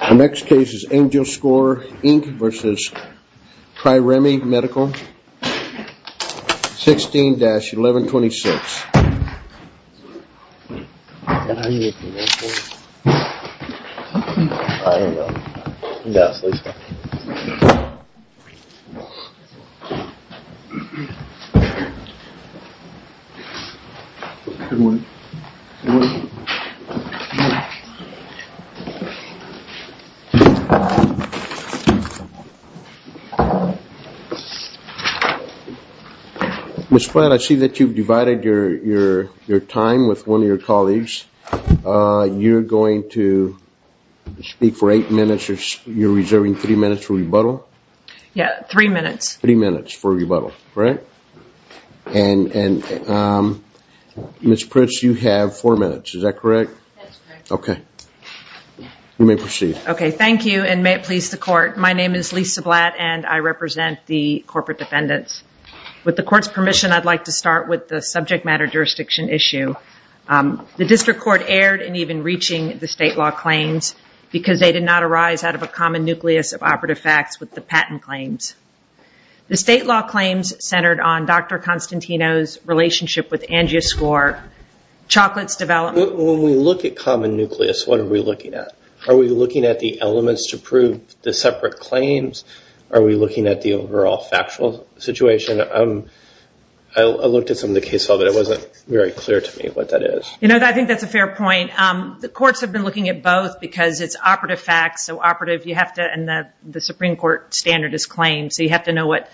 The next case is AngioScore, Inc. v. TriReme Medical, 16-1126 AngioScore, Inc. v. TriReme Medical, 16-1126 AngioScore, Inc. v. TriReme Medical, 16-1126 AngioScore, Inc. v. TriReme Medical, 16-1126 You know, I think that's a fair point. The courts have been looking at both because it's operative facts, so operative you have to, and the Supreme Court standard is claims, so you have to know what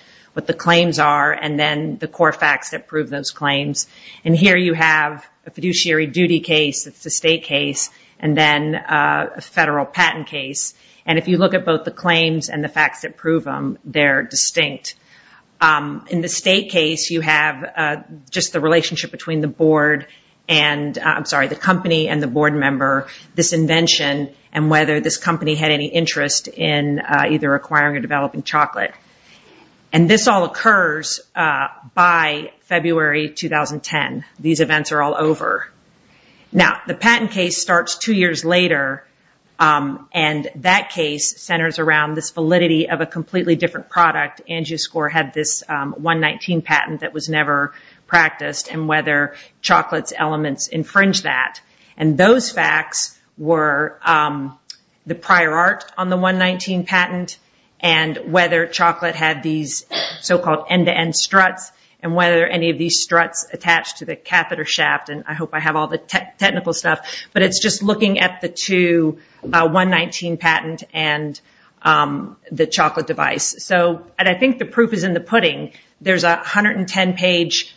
the claims are and then the core facts that prove those claims. And here you have a fiduciary duty case, it's a state case, and then a federal patent case. And if you look at both the claims and the facts that prove them, they're distinct. In the state case, you have just the relationship between the company and the board member, this invention, and whether this company had any interest in either acquiring or developing chocolate. And this all occurs by February 2010. These events are all over. Now, the patent case starts two years later, and that case centers around this validity of a completely different product, AngioScore had this 119 patent that was never practiced, and whether chocolate's elements infringe that. And those facts were the prior art on the 119 patent, and whether chocolate had these so-called end-to-end struts, and whether any of these struts attached to the catheter shaft, and I hope I have all the technical stuff, but it's just looking at the two, 119 patent and the chocolate device. And I think the proof is in the pudding. There's a 110-page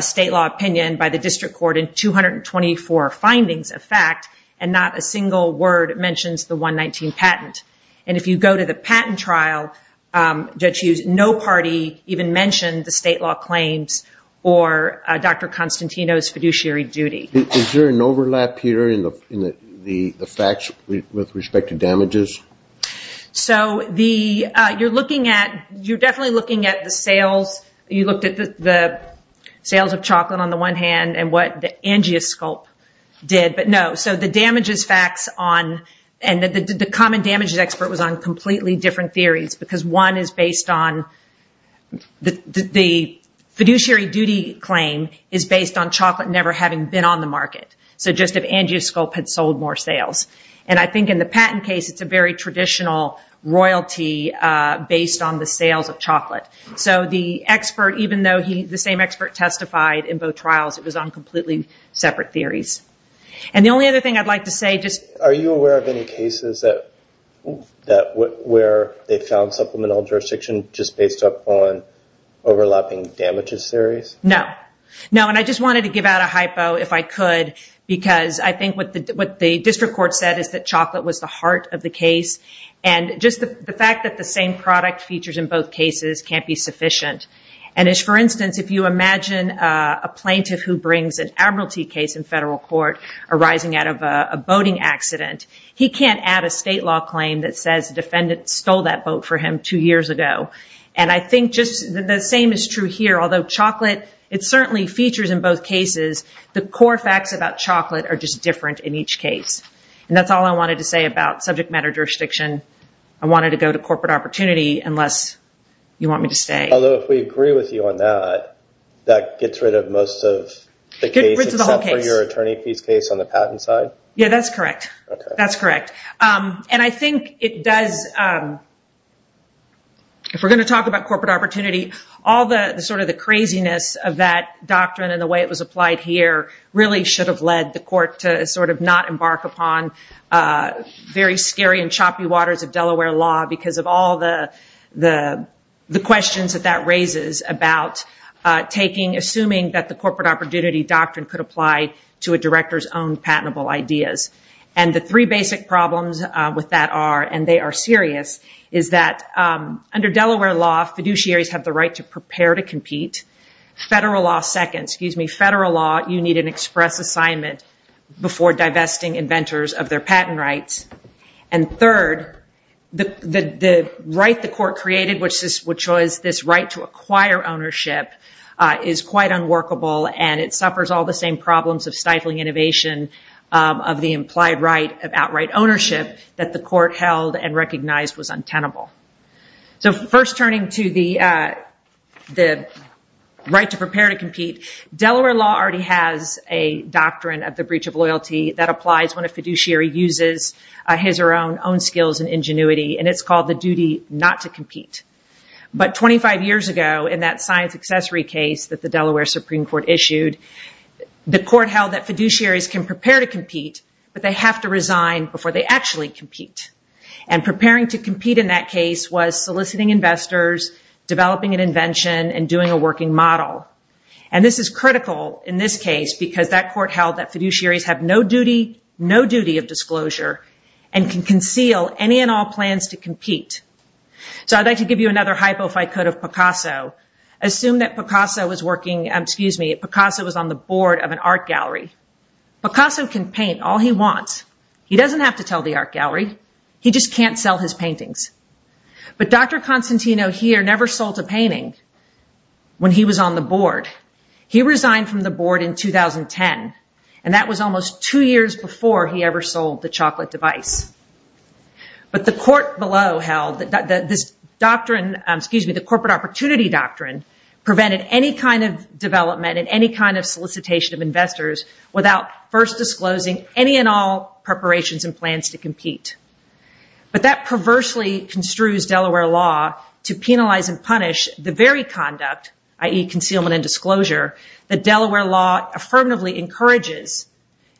state law opinion by the district court and 224 findings of fact, and not a single word mentions the 119 patent. And if you go to the patent trial, no party even mentioned the state law claims or Dr. Constantino's fiduciary duty. Is there an overlap here in the facts with respect to damages? So you're definitely looking at the sales, you looked at the sales of chocolate on the one hand, and what AngioScope did, but no. So the damages facts on, and the common damages expert was on completely different theories, because one is based on the fiduciary duty claim is based on chocolate never having been on the market. So just if AngioScope had sold more sales. And I think in the patent case, it's a very traditional royalty based on the sales of chocolate. So the expert, even though the same expert testified in both trials, it was on completely separate theories. And the only other thing I'd like to say, just... Are you aware of any cases where they found supplemental jurisdiction just based upon overlapping damages theories? No. No, and I just wanted to give out a hypo if I could, because I think what the district court said is that chocolate was the heart of the case. And just the fact that the same product features in both cases can't be sufficient. And as for instance, if you imagine a plaintiff who brings an admiralty case in federal court arising out of a boating accident, he can't add a state law claim that says the defendant stole that boat for him two years ago. And I think just the same is true here. Although chocolate, it certainly features in both cases, the core facts about chocolate are just different in each case. And that's all I wanted to say about subject matter jurisdiction. I wanted to go to corporate opportunity, unless you want me to stay. Although if we agree with you on that, that gets rid of most of the case, except for your attorney fees case on the patent side? Yeah, that's correct. That's correct. And I think it does... If we're going to talk about corporate opportunity, all the craziness of that doctrine and the way it was applied here really should have led the court to not embark upon very scary and choppy waters of Delaware law because of all the questions that that raises about assuming that the corporate opportunity doctrine could apply to a director's own patentable ideas. And the three basic problems with that are, and they are serious, is that under Delaware law, fiduciaries have the right to prepare to compete. Federal law, you need an express assignment before divesting inventors of their patent rights. And third, the right the court created, which was this right to acquire ownership, is quite unworkable, and it suffers all the same problems of stifling innovation of the implied right of outright ownership that the court held and recognized was untenable. So first turning to the right to prepare to compete, Delaware law already has a doctrine of the breach of loyalty that applies when a fiduciary uses his or her own skills and ingenuity, and it's called the duty not to compete. But 25 years ago, in that science accessory case that the Delaware Supreme Court issued, the court held that fiduciaries can prepare to compete, but they have to resign before they actually compete. And preparing to compete in that case was soliciting investors, developing an invention, and doing a working model. And this is critical in this case because that court held that fiduciaries have no duty, no duty of disclosure, and can conceal any and all plans to compete. So I'd like to give you another hypo, if I could, of Picasso. Assume that Picasso was working, excuse me, Picasso was on the board of an art gallery. Picasso can paint all he wants. He doesn't have to tell the art gallery. He just can't sell his paintings. But Dr. Constantino here never sold a painting when he was on the board. He resigned from the board in 2010, and that was almost two years before he ever sold the chocolate device. But the court below held that this doctrine, excuse me, the corporate opportunity doctrine prevented any kind of development and any kind of solicitation of investors without first disclosing any and all preparations and plans to compete. But that perversely construes Delaware law to penalize and punish the very conduct, i.e. concealment and disclosure, that Delaware law affirmatively encourages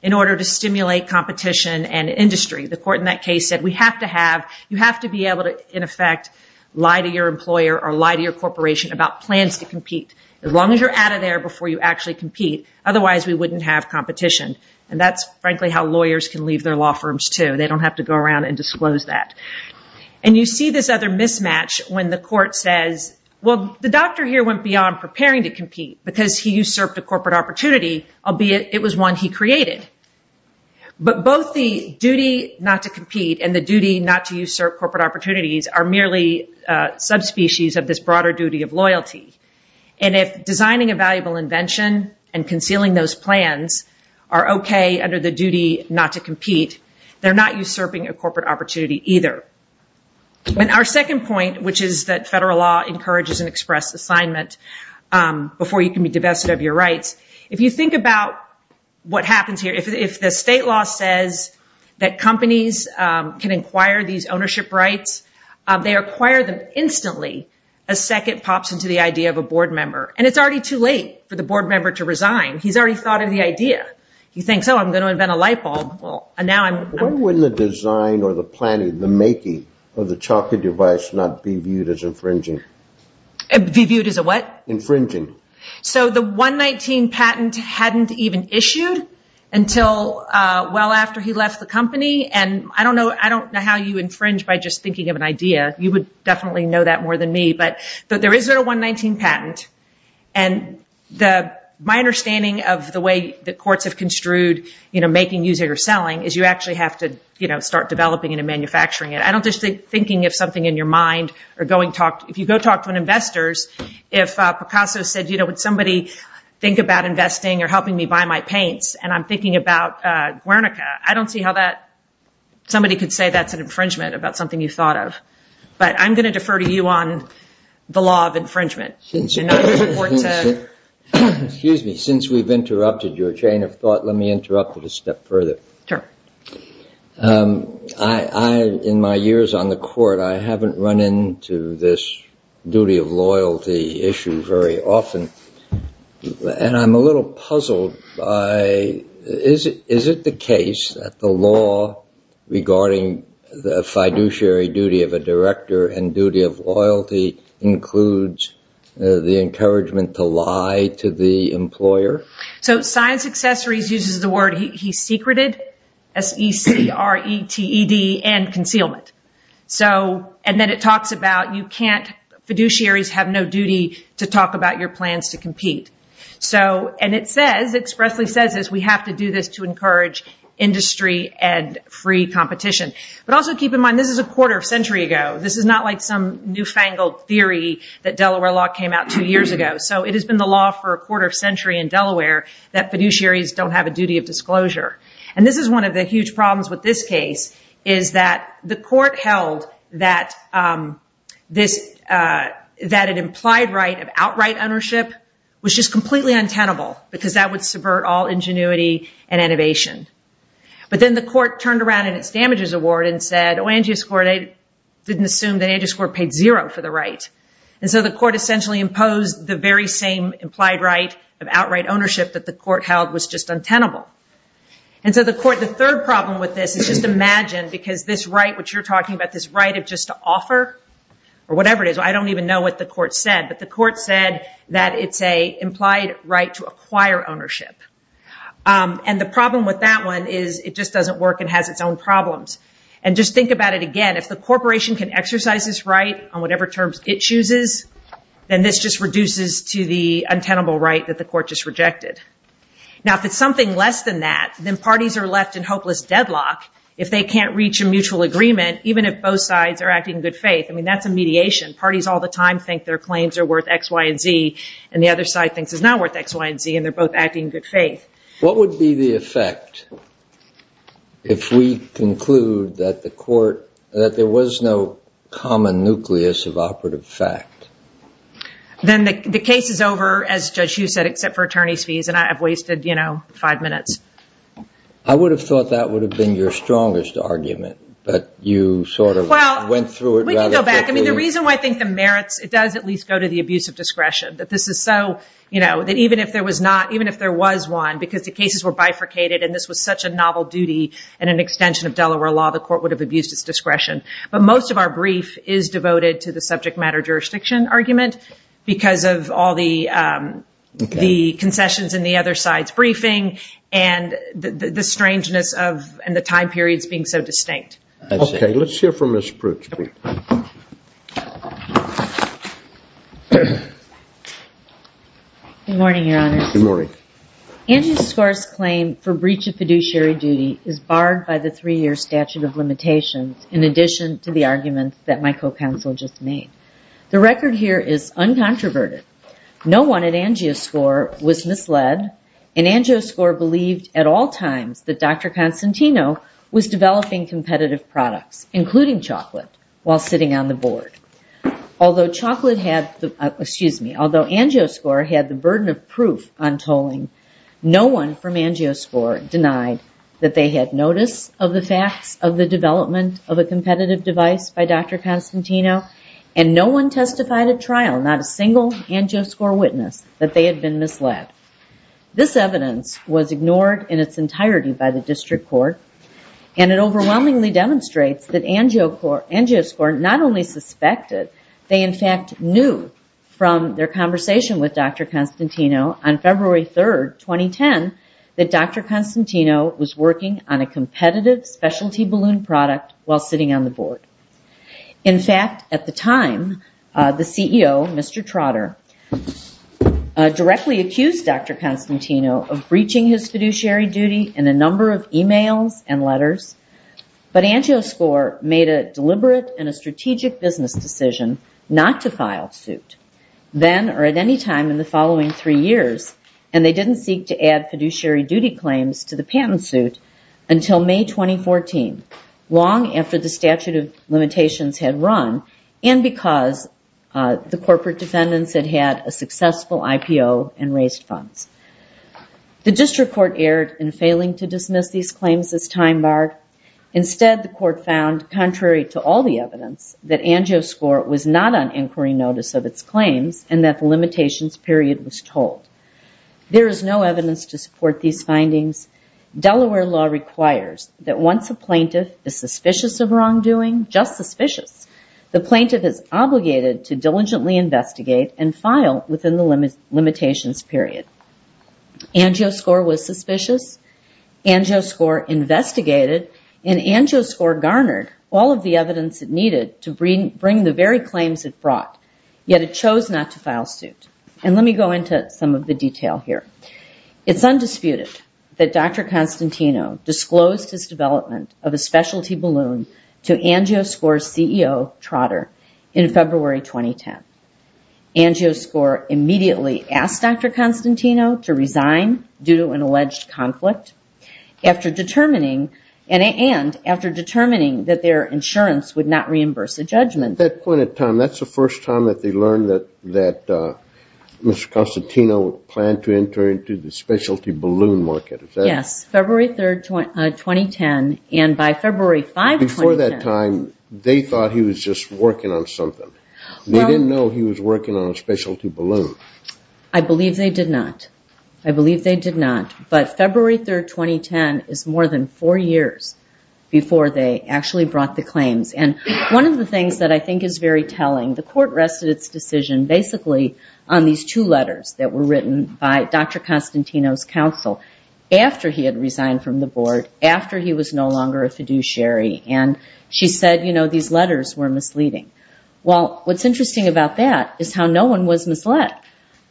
in order to stimulate competition and industry. The court in that case said we have to have, you have to be able to, in effect, lie to your employer or lie to your corporation about plans to compete. As long as you're out of there before you actually compete, otherwise we wouldn't have competition. And that's, frankly, how lawyers can leave their law firms too. They don't have to go around and disclose that. And you see this other mismatch when the court says, well, the doctor here went beyond preparing to compete because he usurped a corporate opportunity, albeit it was one he created. But both the duty not to compete and the duty not to usurp corporate opportunities are merely subspecies of this broader duty of loyalty. And if designing a valuable invention and concealing those plans are okay under the duty not to compete, they're not usurping a corporate opportunity either. And our second point, which is that federal law encourages an express assignment before you can be divested of your rights, if you think about what happens here, can acquire these ownership rights, they acquire them instantly a second pops into the idea of a board member. And it's already too late for the board member to resign. He's already thought of the idea. He thinks, oh, I'm going to invent a light bulb. Well, now I'm... Why wouldn't the design or the planning, the making of the chocolate device not be viewed as infringing? Be viewed as a what? Infringing. So the 119 patent hadn't even issued And I don't know how you infringe by just thinking of an idea. You would definitely know that more than me. But there is a 119 patent. And my understanding of the way the courts have construed making, using or selling is you actually have to start developing and manufacturing it. I don't just think thinking of something in your mind or going talk... If you go talk to an investors, if Picasso said, would somebody think about investing or helping me buy my paints and I'm thinking about Guernica, I don't see how that... Somebody could say that's an infringement about something you thought of. But I'm going to defer to you on the law of infringement. Excuse me. Since we've interrupted your chain of thought, let me interrupt it a step further. Sure. In my years on the court, I haven't run into this duty of loyalty issue very often. And I'm a little puzzled by... Is it the case that the law regarding the fiduciary duty of a director and duty of loyalty includes the encouragement to lie to the employer? So Science Accessories uses the word he secreted, S-E-C-R-E-T-E-D, and concealment. So... And then it talks about you can't... Fiduciaries have no duty to talk about your plans to compete. So... And it says, it expressly says this, we have to do this to encourage industry and free competition. But also keep in mind, this is a quarter of a century ago. This is not like some newfangled theory that Delaware law came out two years ago. So it has been the law for a quarter of a century in Delaware that fiduciaries don't have a duty of disclosure. And this is one of the huge problems with this case, is that the court held that this... That an implied right of outright ownership was just completely untenable because that would subvert all ingenuity and innovation. But then the court turned around in its damages award and said, oh, Angius Court didn't assume that Angius Court paid zero for the right. And so the court essentially imposed the very same implied right of outright ownership that the court held was just untenable. And so the court... The third problem with this is just imagine, because this right which you're talking about, this right of just to offer, or whatever it is, I don't even know what the court said, but the court said that it's an implied right to acquire ownership. And the problem with that one is it just doesn't work and has its own problems. And just think about it again. If the corporation can exercise this right on whatever terms it chooses, then this just reduces to the untenable right that the court just rejected. Now, if it's something less than that, then parties are left in hopeless deadlock if they can't reach a mutual agreement, even if both sides are acting in good faith. I mean, that's a mediation. Parties all the time think their claims are worth X, Y, and Z, and the other side thinks it's not worth X, Y, and Z, and they're both acting in good faith. What would be the effect if we conclude that the court... that there was no common nucleus of operative fact? Then the case is over, as Judge Hughes said, except for attorney's fees, and I've wasted, you know, five minutes. I would have thought that would have been your strongest argument, but you sort of went through it rather quickly. Well, we can go back. I mean, the reason why I think the merits... that this is so... you know, that even if there was not... even if there was one, because the cases were bifurcated, and this was such a novel duty and an extension of Delaware law, the court would have abused its discretion. But most of our brief is devoted to the subject matter jurisdiction argument because of all the concessions and the other side's briefing and the strangeness of... and the time periods being so distinct. I see. Okay, let's hear from Ms. Pritchfield. Good morning, Your Honor. Good morning. Angioscore's claim for breach of fiduciary duty is barred by the three-year statute of limitations in addition to the arguments that my co-counsel just made. The record here is uncontroverted. No one at Angioscore was misled, and Angioscore believed at all times that Dr. Constantino was developing competitive products, including chocolate, while sitting on the board. Although chocolate had... Excuse me. Although Angioscore had the burden of proof on tolling, no one from Angioscore denied that they had notice of the facts of the development of a competitive device by Dr. Constantino, and no one testified at trial, not a single Angioscore witness, that they had been misled. This evidence was ignored in its entirety by the district court, and it overwhelmingly demonstrates that Angioscore not only suspected, they in fact knew from their conversation with Dr. Constantino on February 3rd, 2010, that Dr. Constantino was working on a competitive specialty balloon product while sitting on the board. In fact, at the time, the CEO, Mr. Trotter, directly accused Dr. Constantino of breaching his fiduciary duty in a number of emails and letters, but Angioscore made a deliberate and a strategic business decision not to file suit, then or at any time in the following three years, and they didn't seek to add fiduciary duty claims to the patent suit until May 2014, long after the statute of limitations had run and because the corporate defendants had had a successful IPO and raised funds. The district court erred in failing to dismiss these claims as time-barred. Instead, the court found, contrary to all the evidence, that Angioscore was not on inquiry notice of its claims and that the limitations period was told. There is no evidence to support these findings. Delaware law requires that once a plaintiff is suspicious of wrongdoing, just suspicious, the plaintiff is obligated to diligently investigate and file within the limitations period. Angioscore was suspicious, Angioscore investigated, and Angioscore garnered all of the evidence it needed to bring the very claims it brought, yet it chose not to file suit. Let me go into some of the detail here. It's undisputed that Dr. Constantino disclosed his development of a specialty balloon to Angioscore's CEO, Trotter, in February 2010. Angioscore immediately asked Dr. Constantino to resign due to an alleged conflict and after determining that their insurance would not reimburse a judgment. At that point in time, that's the first time that they learned that Mr. Constantino planned to enter into the specialty balloon market. Yes, February 3rd, 2010, and by February 5th, 2010. Before that time, they thought he was just working on something. They didn't know he was working on a specialty balloon. I believe they did not. I believe they did not, but February 3rd, 2010 is more than four years before they actually brought the claims, and one of the things that I think is very telling, the court rested its decision basically on these two letters that were written by Dr. Constantino's counsel after he had resigned from the board, after he was no longer a fiduciary, and she said, you know, these letters were misleading. Well, what's interesting about that is how no one was misled.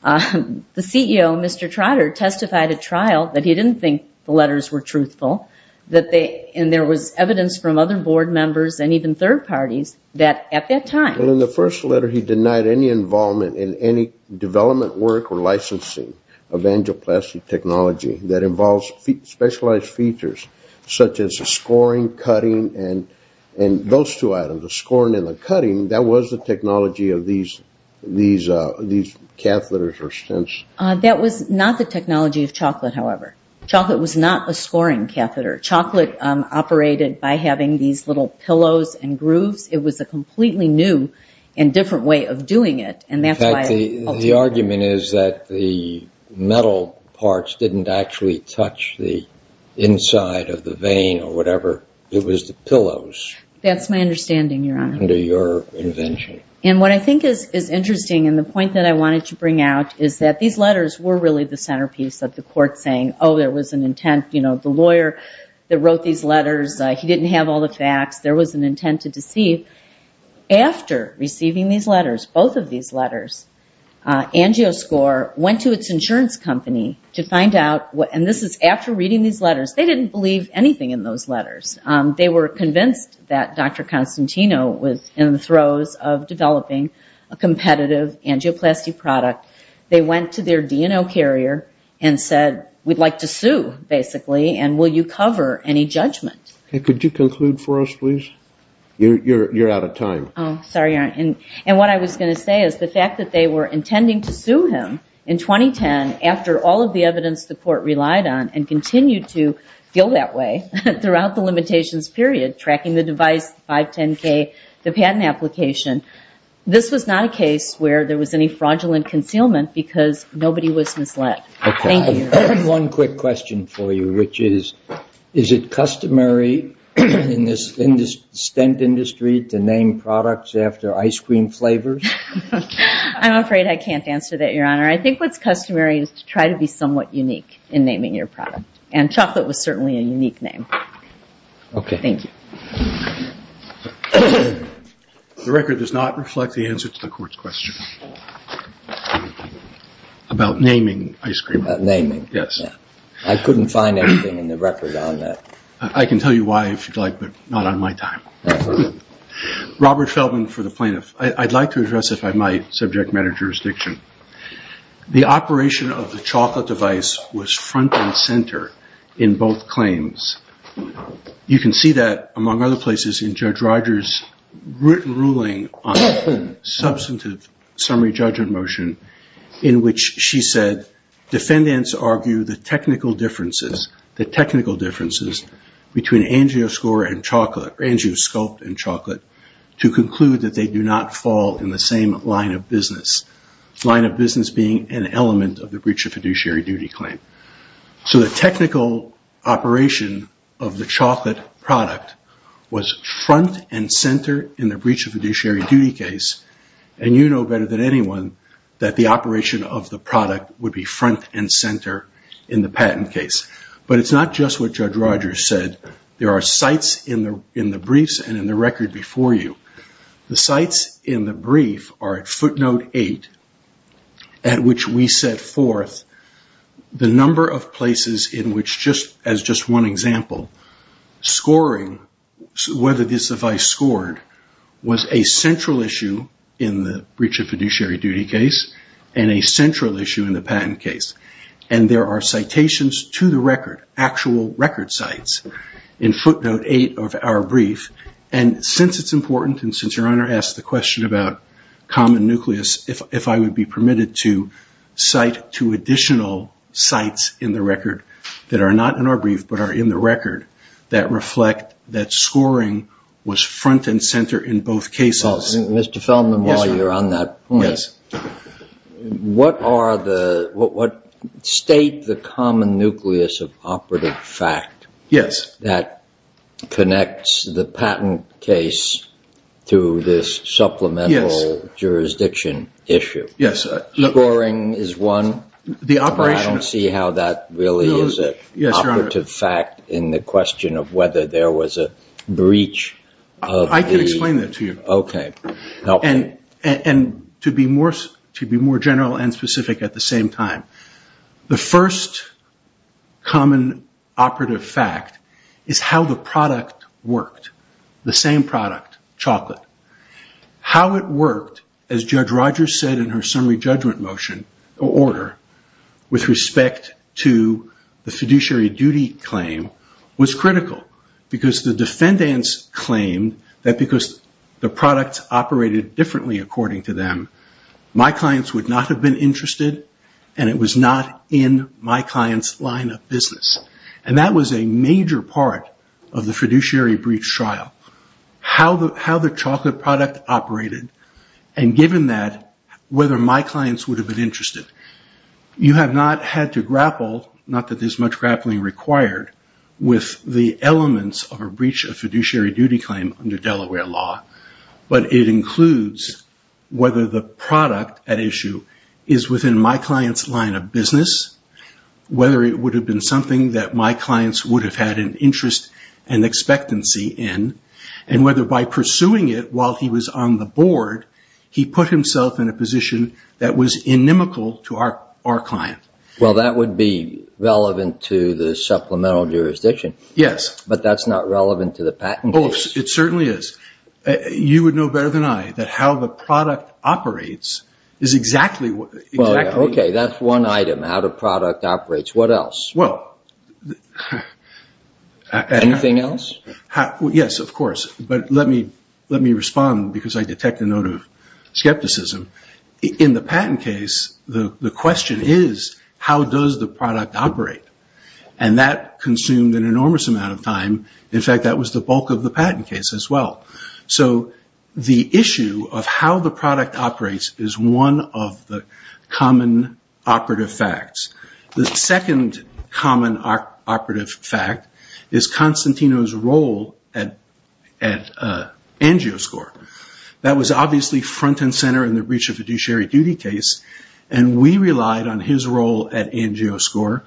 The CEO, Mr. Trotter, testified at trial that he didn't think the letters were truthful, and there was evidence from other board members and even third parties that at that time... Well, in the first letter, he denied any involvement in any development work or licensing of angioplasty technology that involves specialized features such as scoring, cutting, and those two items, the scoring and the cutting, that was the technology of these catheters or stents. That was not the technology of chocolate, however. Chocolate was not a scoring catheter. Chocolate operated by having these little pillows and grooves. It was a completely new and different way of doing it, and that's why... In fact, the argument is that the metal parts didn't actually touch the inside of the vein or whatever. It was the pillows. That's my understanding, Your Honor. Under your invention. And what I think is interesting, and the point that I wanted to bring out, is that these letters were really the centerpiece of the court saying, oh, there was an intent. You know, the lawyer that wrote these letters, he didn't have all the facts. There was an intent to deceive. After receiving these letters, both of these letters, Angioscore went to its insurance company to find out... And this is after reading these letters. They didn't believe anything in those letters. They were convinced that Dr. Constantino was in the throes of developing a competitive angioplasty product. They went to their D&O carrier and said, we'd like to sue, basically, and will you cover any judgment? Could you conclude for us, please? You're out of time. Oh, sorry, Your Honor. And what I was going to say is the fact that they were intending to sue him in 2010 after all of the evidence the court relied on and continued to feel that way throughout the limitations period, tracking the device, 510K, the patent application. This was not a case where there was any fraudulent concealment because nobody was misled. Thank you. One quick question for you, which is, is it customary in this stent industry to name products I'm afraid I can't answer that, Your Honor. I think what's customary is to try to be somewhat unique in naming your product. And chocolate was certainly a unique name. Okay. Thank you. The record does not reflect the answer to the court's question about naming ice cream. About naming. Yes. I couldn't find anything in the record on that. I can tell you why if you'd like, but not on my time. Robert Feldman for the plaintiff. I'd like to address, if I might, subject matter jurisdiction. The operation of the chocolate device was front and center in both claims. You can see that, among other places, in Judge Rogers' written ruling on substantive summary judgment motion, in which she said, defendants argue the technical differences, the technical differences, between angioscore and chocolate, angiosculpt and chocolate, to conclude that they do not fall in the same line of business. Line of business being an element of the breach of fiduciary duty claim. The technical operation of the chocolate product was front and center in the breach of fiduciary duty case. You know better than anyone that the operation of the product would be front and center in the patent case. It's not just what Judge Rogers said. There are sites in the briefs and in the record before you. The sites in the brief are at footnote eight, at which we set forth the number of places in which, as just one example, scoring, whether this device scored, was a central issue in the breach of fiduciary duty case and a central issue in the patent case. There are citations to the record, actual record sites, in footnote eight of our brief. Since it's important and since your brief, if I would be permitted to cite two additional sites in the record that are not in our brief but are in the record that reflect that scoring was front and center in both cases. Mr. Feldman, while you're on that point, what state the common nucleus of operative fact that connects the patent case to this supplemental jurisdiction issue? Scoring is one. I don't see how that really is an operative fact in the question of whether there was a breach. I can explain that to you. Okay. To be more general and specific at the same time, the first common operative fact is how the product worked. The same product, chocolate. How it operated. What Rogers said in her summary judgment order with respect to the fiduciary duty claim was critical because the defendants claimed that because the product operated differently according to them, my clients would not have been interested and it was not in my clients' line of business. That was a major part of the fiduciary breach trial. How the product operated second common operative fact is whether my clients would have been interested. You have not had to grapple, not that there's much grappling required, with the elements of a breach of fiduciary duty claim under Delaware law, but it includes whether the product at issue is within my clients' line of business, whether it would have been something that my clients would have had an interest and expectancy in, and whether by pursuing it while he was on the board, he put himself in a position that was inimical to our client. Well, that would be relevant to the supplemental jurisdiction. Yes. But that's not relevant to the patent case. It certainly is. You would know better than I that how the product operates is exactly what... Okay, that's one item, how the product operates. What else? Anything else? Yes, of course, but let me respond because I detect a note of skepticism. In the patent case, the question is how does the product operate? And that consumed an enormous amount of time. In fact, that was the bulk of the patent case as well. So the issue of how the product operates is one of the common operative facts. The second common operative fact is Constantino's role at Angio score. That was based on his role at Angio score.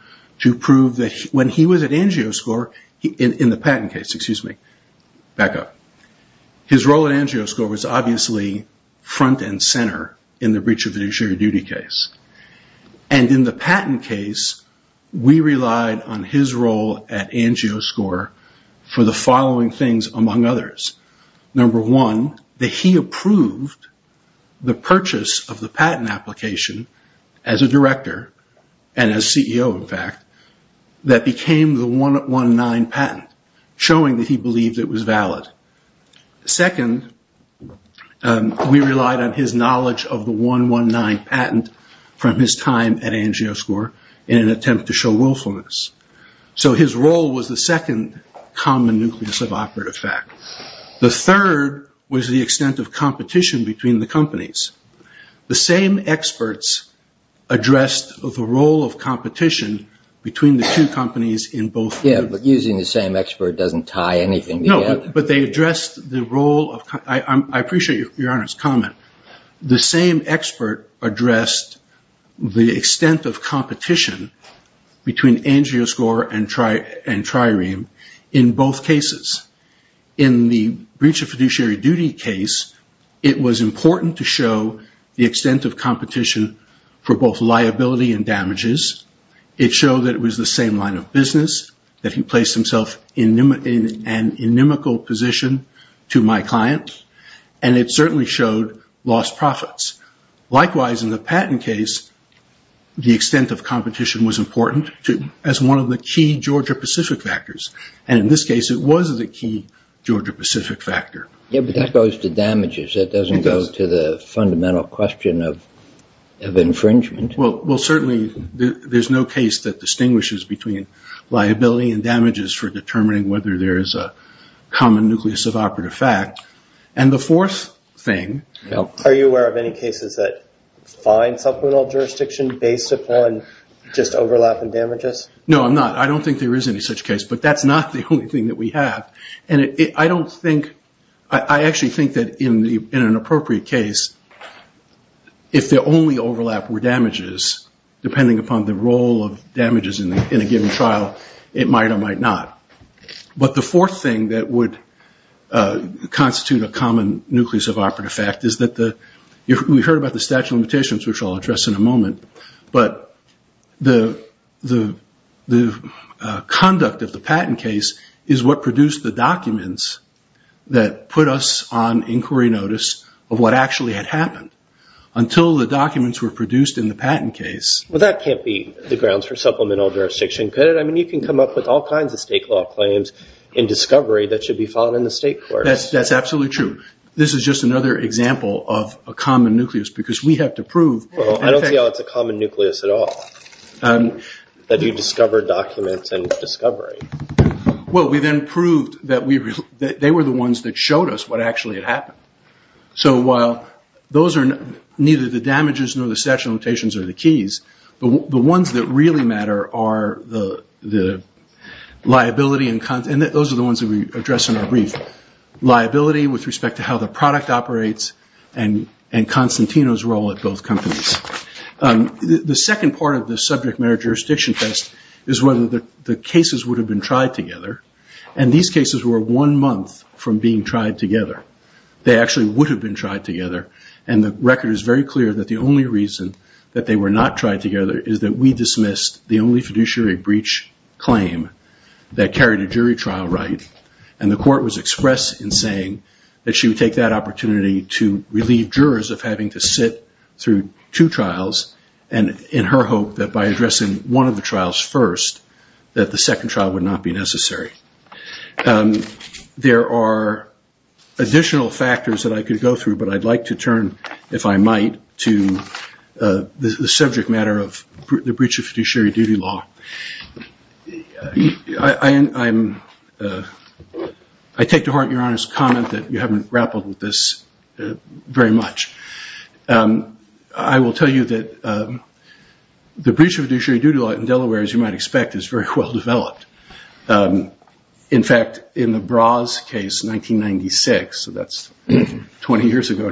When he was at Angio score, in the patent case, excuse me, back up, his role at Angio score was obviously front and center in the breach of fiduciary duty case. And in the patent case, we relied on his role at Angio score for the following things among others. Number one, that he approved the purchase of the patent application as a director, and as CEO, in fact, that became the 119 patent, showing that he believed it was valid. Second, we relied on his knowledge of the 119 patent from his time at Angio score in an attempt to show willfulness. So his role was the second common nucleus of operative fact. The third was the extent of competition between the companies. The same experts addressed the role of competition between the two companies in both cases. I appreciate your Honor's comment. The same expert addressed the extent of competition between Angio score and Trireme in both cases. In the breach of fiduciary duty case, it was important to show the extent of competition for both liability and damages. It showed that it was the same line of business, that he placed himself in an inimical position to my client, and it certainly showed lost profits. Likewise, in the patent case, the extent of competition was important as one of the key Georgia-Pacific factors. In this case, it was the key Georgia-Pacific factor. That goes to damages. It doesn't go to the fundamental question of infringement. Well, certainly, there's no case that distinguishes between liability and damages for determining whether there is a common nucleus of operative fact. And the fourth thing... Are you aware of any cases that find supplemental jurisdiction based upon just overlap and damages? No, I'm not. I don't think there is any such case, but that's not the only thing that we have. I actually think that in an appropriate case, if the only overlap were damages, depending upon the role of damages in a given trial, it might or might not. But the conduct of the patent case is what produced the documents that put us on inquiry notice of what actually had happened. Until the documents were produced in the patent case... Well, that can't be the grounds for supplemental jurisdiction, can it? I mean, you can come up with all kinds of state law,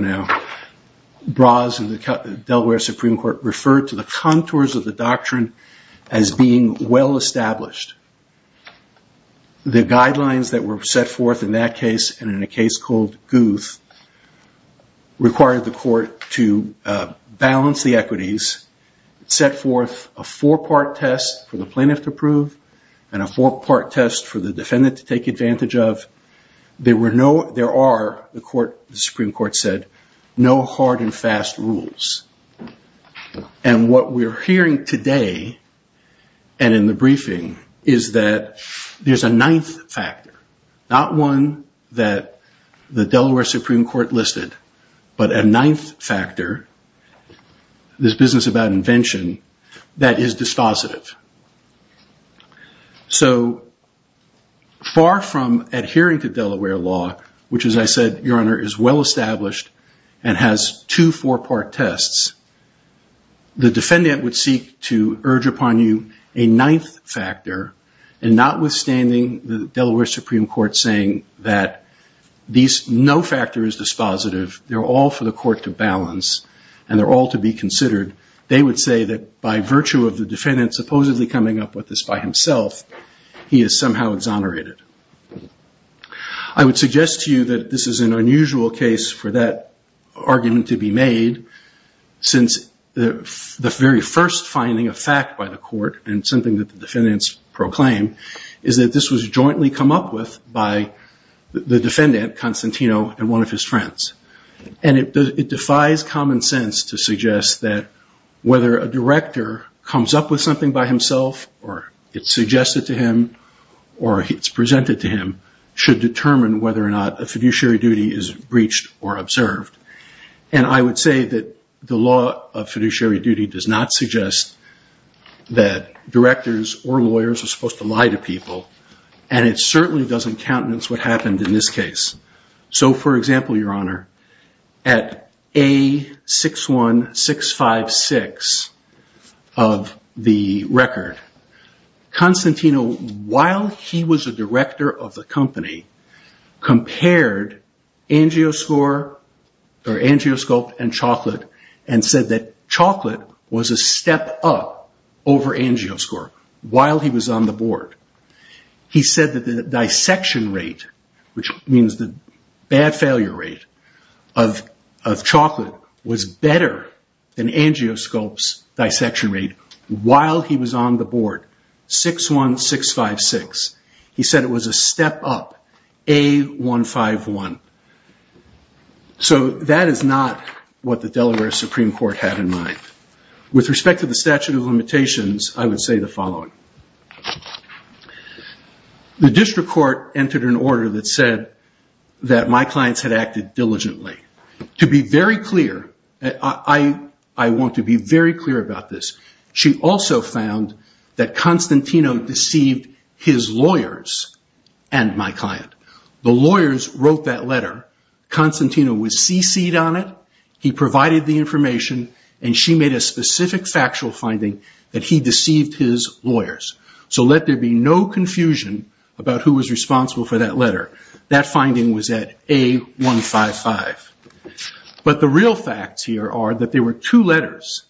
but the guidelines that were set forth in that case and in a case called Guth required the court to balance the equities, set forth test for the plaintiff to prove, and a four-part test for the defendant to take advantage of. There are, the Supreme Court said, there's a ninth factor, not one that the Delaware Supreme Court listed, but a ninth factor, this business about invention, that is dispositive. So far from adhering to Delaware law, which as I said, Your Honor, is well established and has two four-part tests, the defendant would seek to urge upon you a ninth factor, and not withstanding the Delaware Supreme Court saying that these, no factor is dispositive, they're all for the court to balance, and they're all to be considered, they would say that by virtue of the defendant supposedly coming up with this by himself, he is somehow exonerated. I would suggest to you that this is an unusual case for that argument to be made, since the very first finding of fact by the court, and something that the defendants proclaim, is that this was jointly come up with by the defendant, Constantino, and one of his friends. And it defies common sense to suggest that whether a director comes up with something by himself, or it's suggested to him, or it's presented to him, should determine whether or not a fiduciary duty is breached or observed. And I would say that the law of fiduciary duty does not suggest that directors or lawyers are supposed to lie to people, and it certainly doesn't countenance what happened in this case. So for example, your honor, at A61656 of the record, Constantino, while he was the director of the company, compared Angioscope and Chocolate, and said that Chocolate was a step up over Angioscope while he was on the board. He said that the dissection rate, which means the bad failure rate of Chocolate was better than Angioscope's dissection rate while he was on the board, 61656. He said it was a step up, A151. So that is not what the Delaware Supreme Court had in mind. With respect to the statute of limitations, I would say the following. The district court entered an order that said that my clients had acted diligently. To be very clear, I want to be very clear about this, she also found that Constantino deceived his lawyers and my client. The lawyers wrote that this was a very specific factual finding that he deceived his lawyers. So let there be no confusion about who was responsible for that letter. That finding was at A155. But the real facts here are that there were two letters.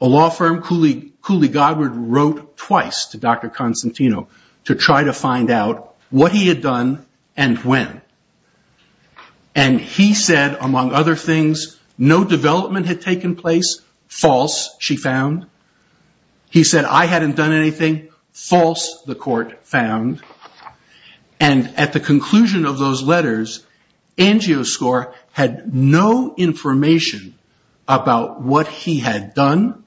A law firm wrote twice to Dr. Constantino to try to find out what he had done. He said I hadn't done anything. False, the court found. And at the conclusion of those letters, Angioscore had no information about what he had done.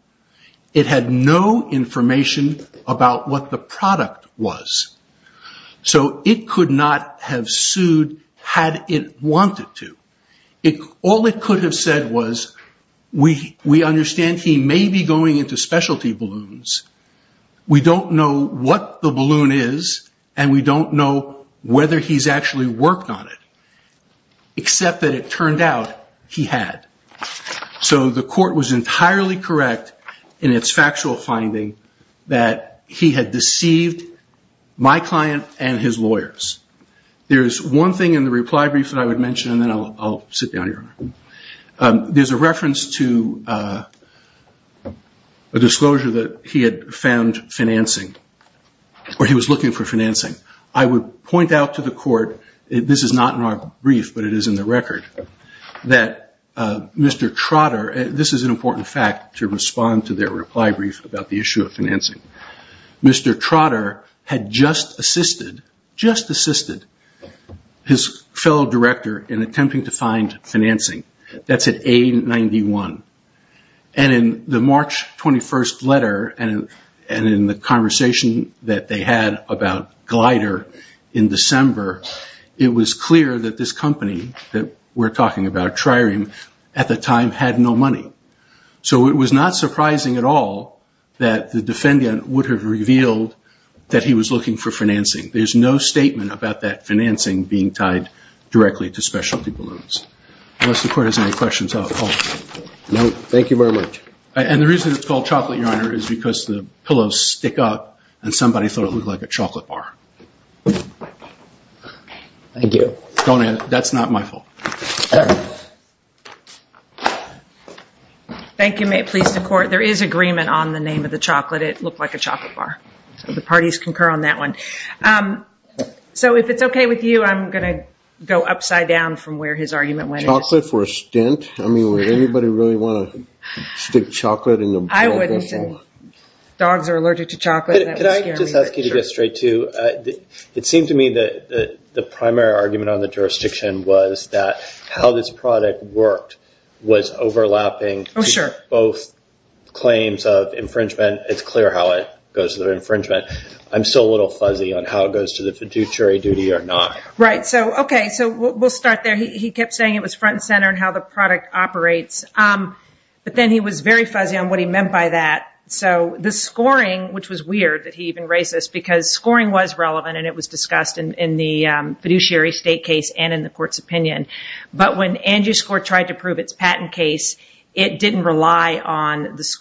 It had no information about what the product was. So it could not have sued had it wanted to. All it could have said was we understand he may be going into specialty balloons. We don't know what the balloon is and we don't know whether he's actually worked on it. Except that it turned out he had. So the court was entirely correct in its factual finding that he had deceived my client and his lawyers. There's one thing in the reply brief that I would mention and then I'll sit down here. There's a reference to a disclosure that he had found financing or he was looking for financing. I would point out to the court, this is not in our brief but it is in the record, that Mr. Trotter, this is an A-91, Trotter just assisted his fellow director in attempting to find financing. That's an A-91. And in the March 21st letter and in the conversation that they had about Glider in December, it was clear that this company that we're looking for financing, there's no statement about that financing being tied directly to specialty balloons. Unless the court has any questions. The reason it's called chocolate is because the pillows stick up and somebody thought it looked like a chocolate bar. That's not my fault. Thank you. May it please the court. There is one more question. So if it's okay with you, I'm going to go upside down from where his argument went. I wouldn't say. Dogs are allergic to chocolate. It seemed to me that the primary argument on the jurisdiction was that how this product worked was overlapping both claims of infringement. It's clear how it goes to infringement. I'm still a little fuzzy on how it goes to the fiduciary duty or not. We'll start there. He kept saying it was front and center and how the product operates. He was fuzzy on what he meant by that. The scoring was relevant and discussed in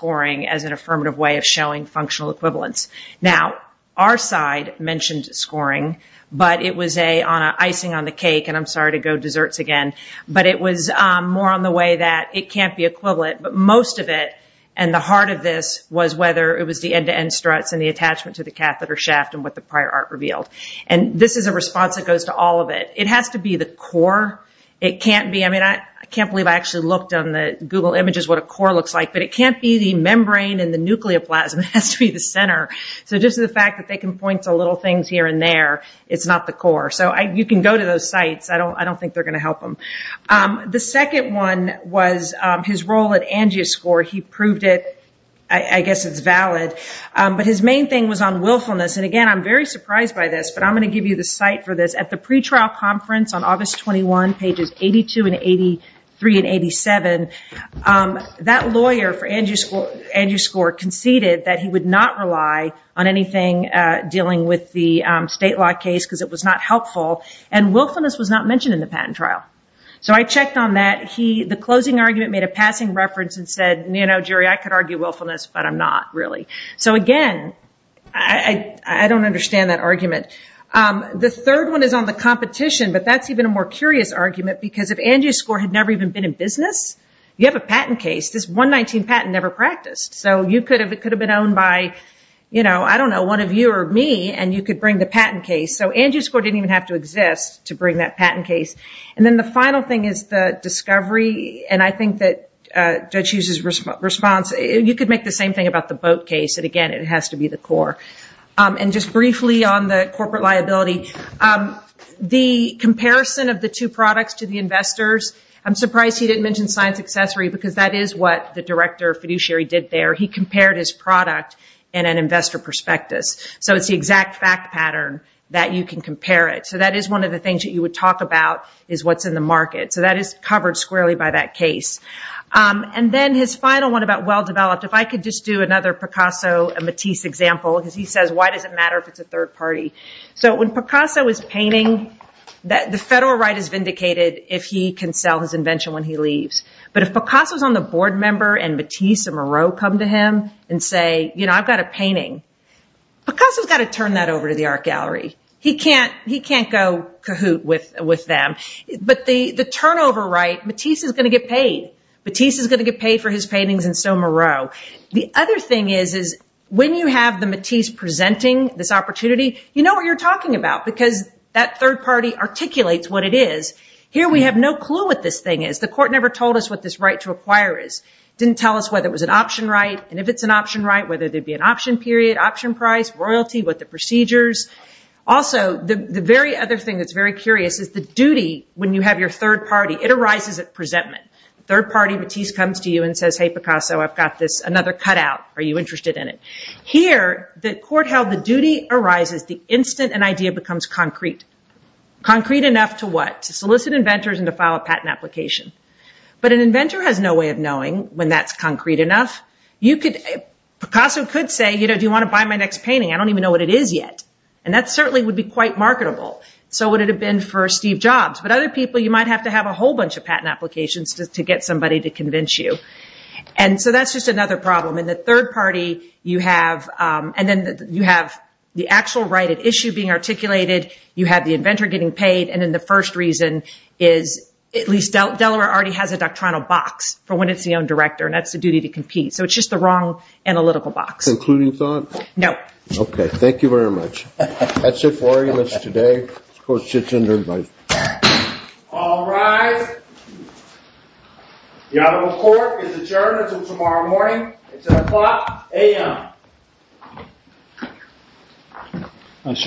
the article. Our side mentioned scoring. It was icing on the cake. It was more on the way that it can't be equivalent. Most of it was the attachment to the catheter shaft. This is a response that goes to all of it. It has to be the core. I can't believe I looked on Google images what a core looks like. It can't be the membrane. It has to be the center. You can go to those sites. I don't think they will help them. The second one was his role. His main thing was on willfulness. I'm very surprised by this. At the pre-trial conference, that lawyer conceded that he would not rely on anything dealing with the state law case because it was not helpful. Willfulness was not mentioned in the patent trial. I checked on that. The closing argument made a passing reference. I could argue willfulness, but I'm not. I don't understand that argument. The third one is on the competition. That is a more curious argument. This 119 patent never practiced. It could have been owned by one of you or me. It didn't have to exist. The final thing is the discovery and I think that you could make the same thing about the boat case. It has to be the core. Just briefly on the corporate liability, the comparison of the two products to the investors, I'm surprised he didn't mention science accessory because that is what the director did there. He compared his product in an investor perspective. That is one of the things you would talk about. That is covered squarely by that case. If I could do another example, why does it matter if it is a third party? When Picasso is painting, the federal right is vindicated if he can sell his invention when he leaves. If Picasso is on the board member and Matisse and Moreau come to him and say I have a painting, Picasso has to turn that over. He can't go with them. The turnover right, Matisse is going to get paid. The other thing is when you have Matisse presenting this opportunity, you know what you are talking about. Here we have no clue what this thing is. It didn't tell us if it was an option right, option price, royalty, what the procedures. The duty when you have your third party, it arises at presentment. Here the court held the duty arises the instant an idea becomes concrete. Concrete enough to file a patent application. An idea becomes concrete. Picasso could say do you want to buy my next painting. That would be quite marketable. You might have to have a whole bunch of patent applications. That's another problem. The third party, you have the actual right of issue being articulated, the inventor getting paid and the first reason is at least Delaware already has a doctrinal box. It's just the wrong analytical box. Thank you very much. That's it for today. The court sits under the bench. you very much.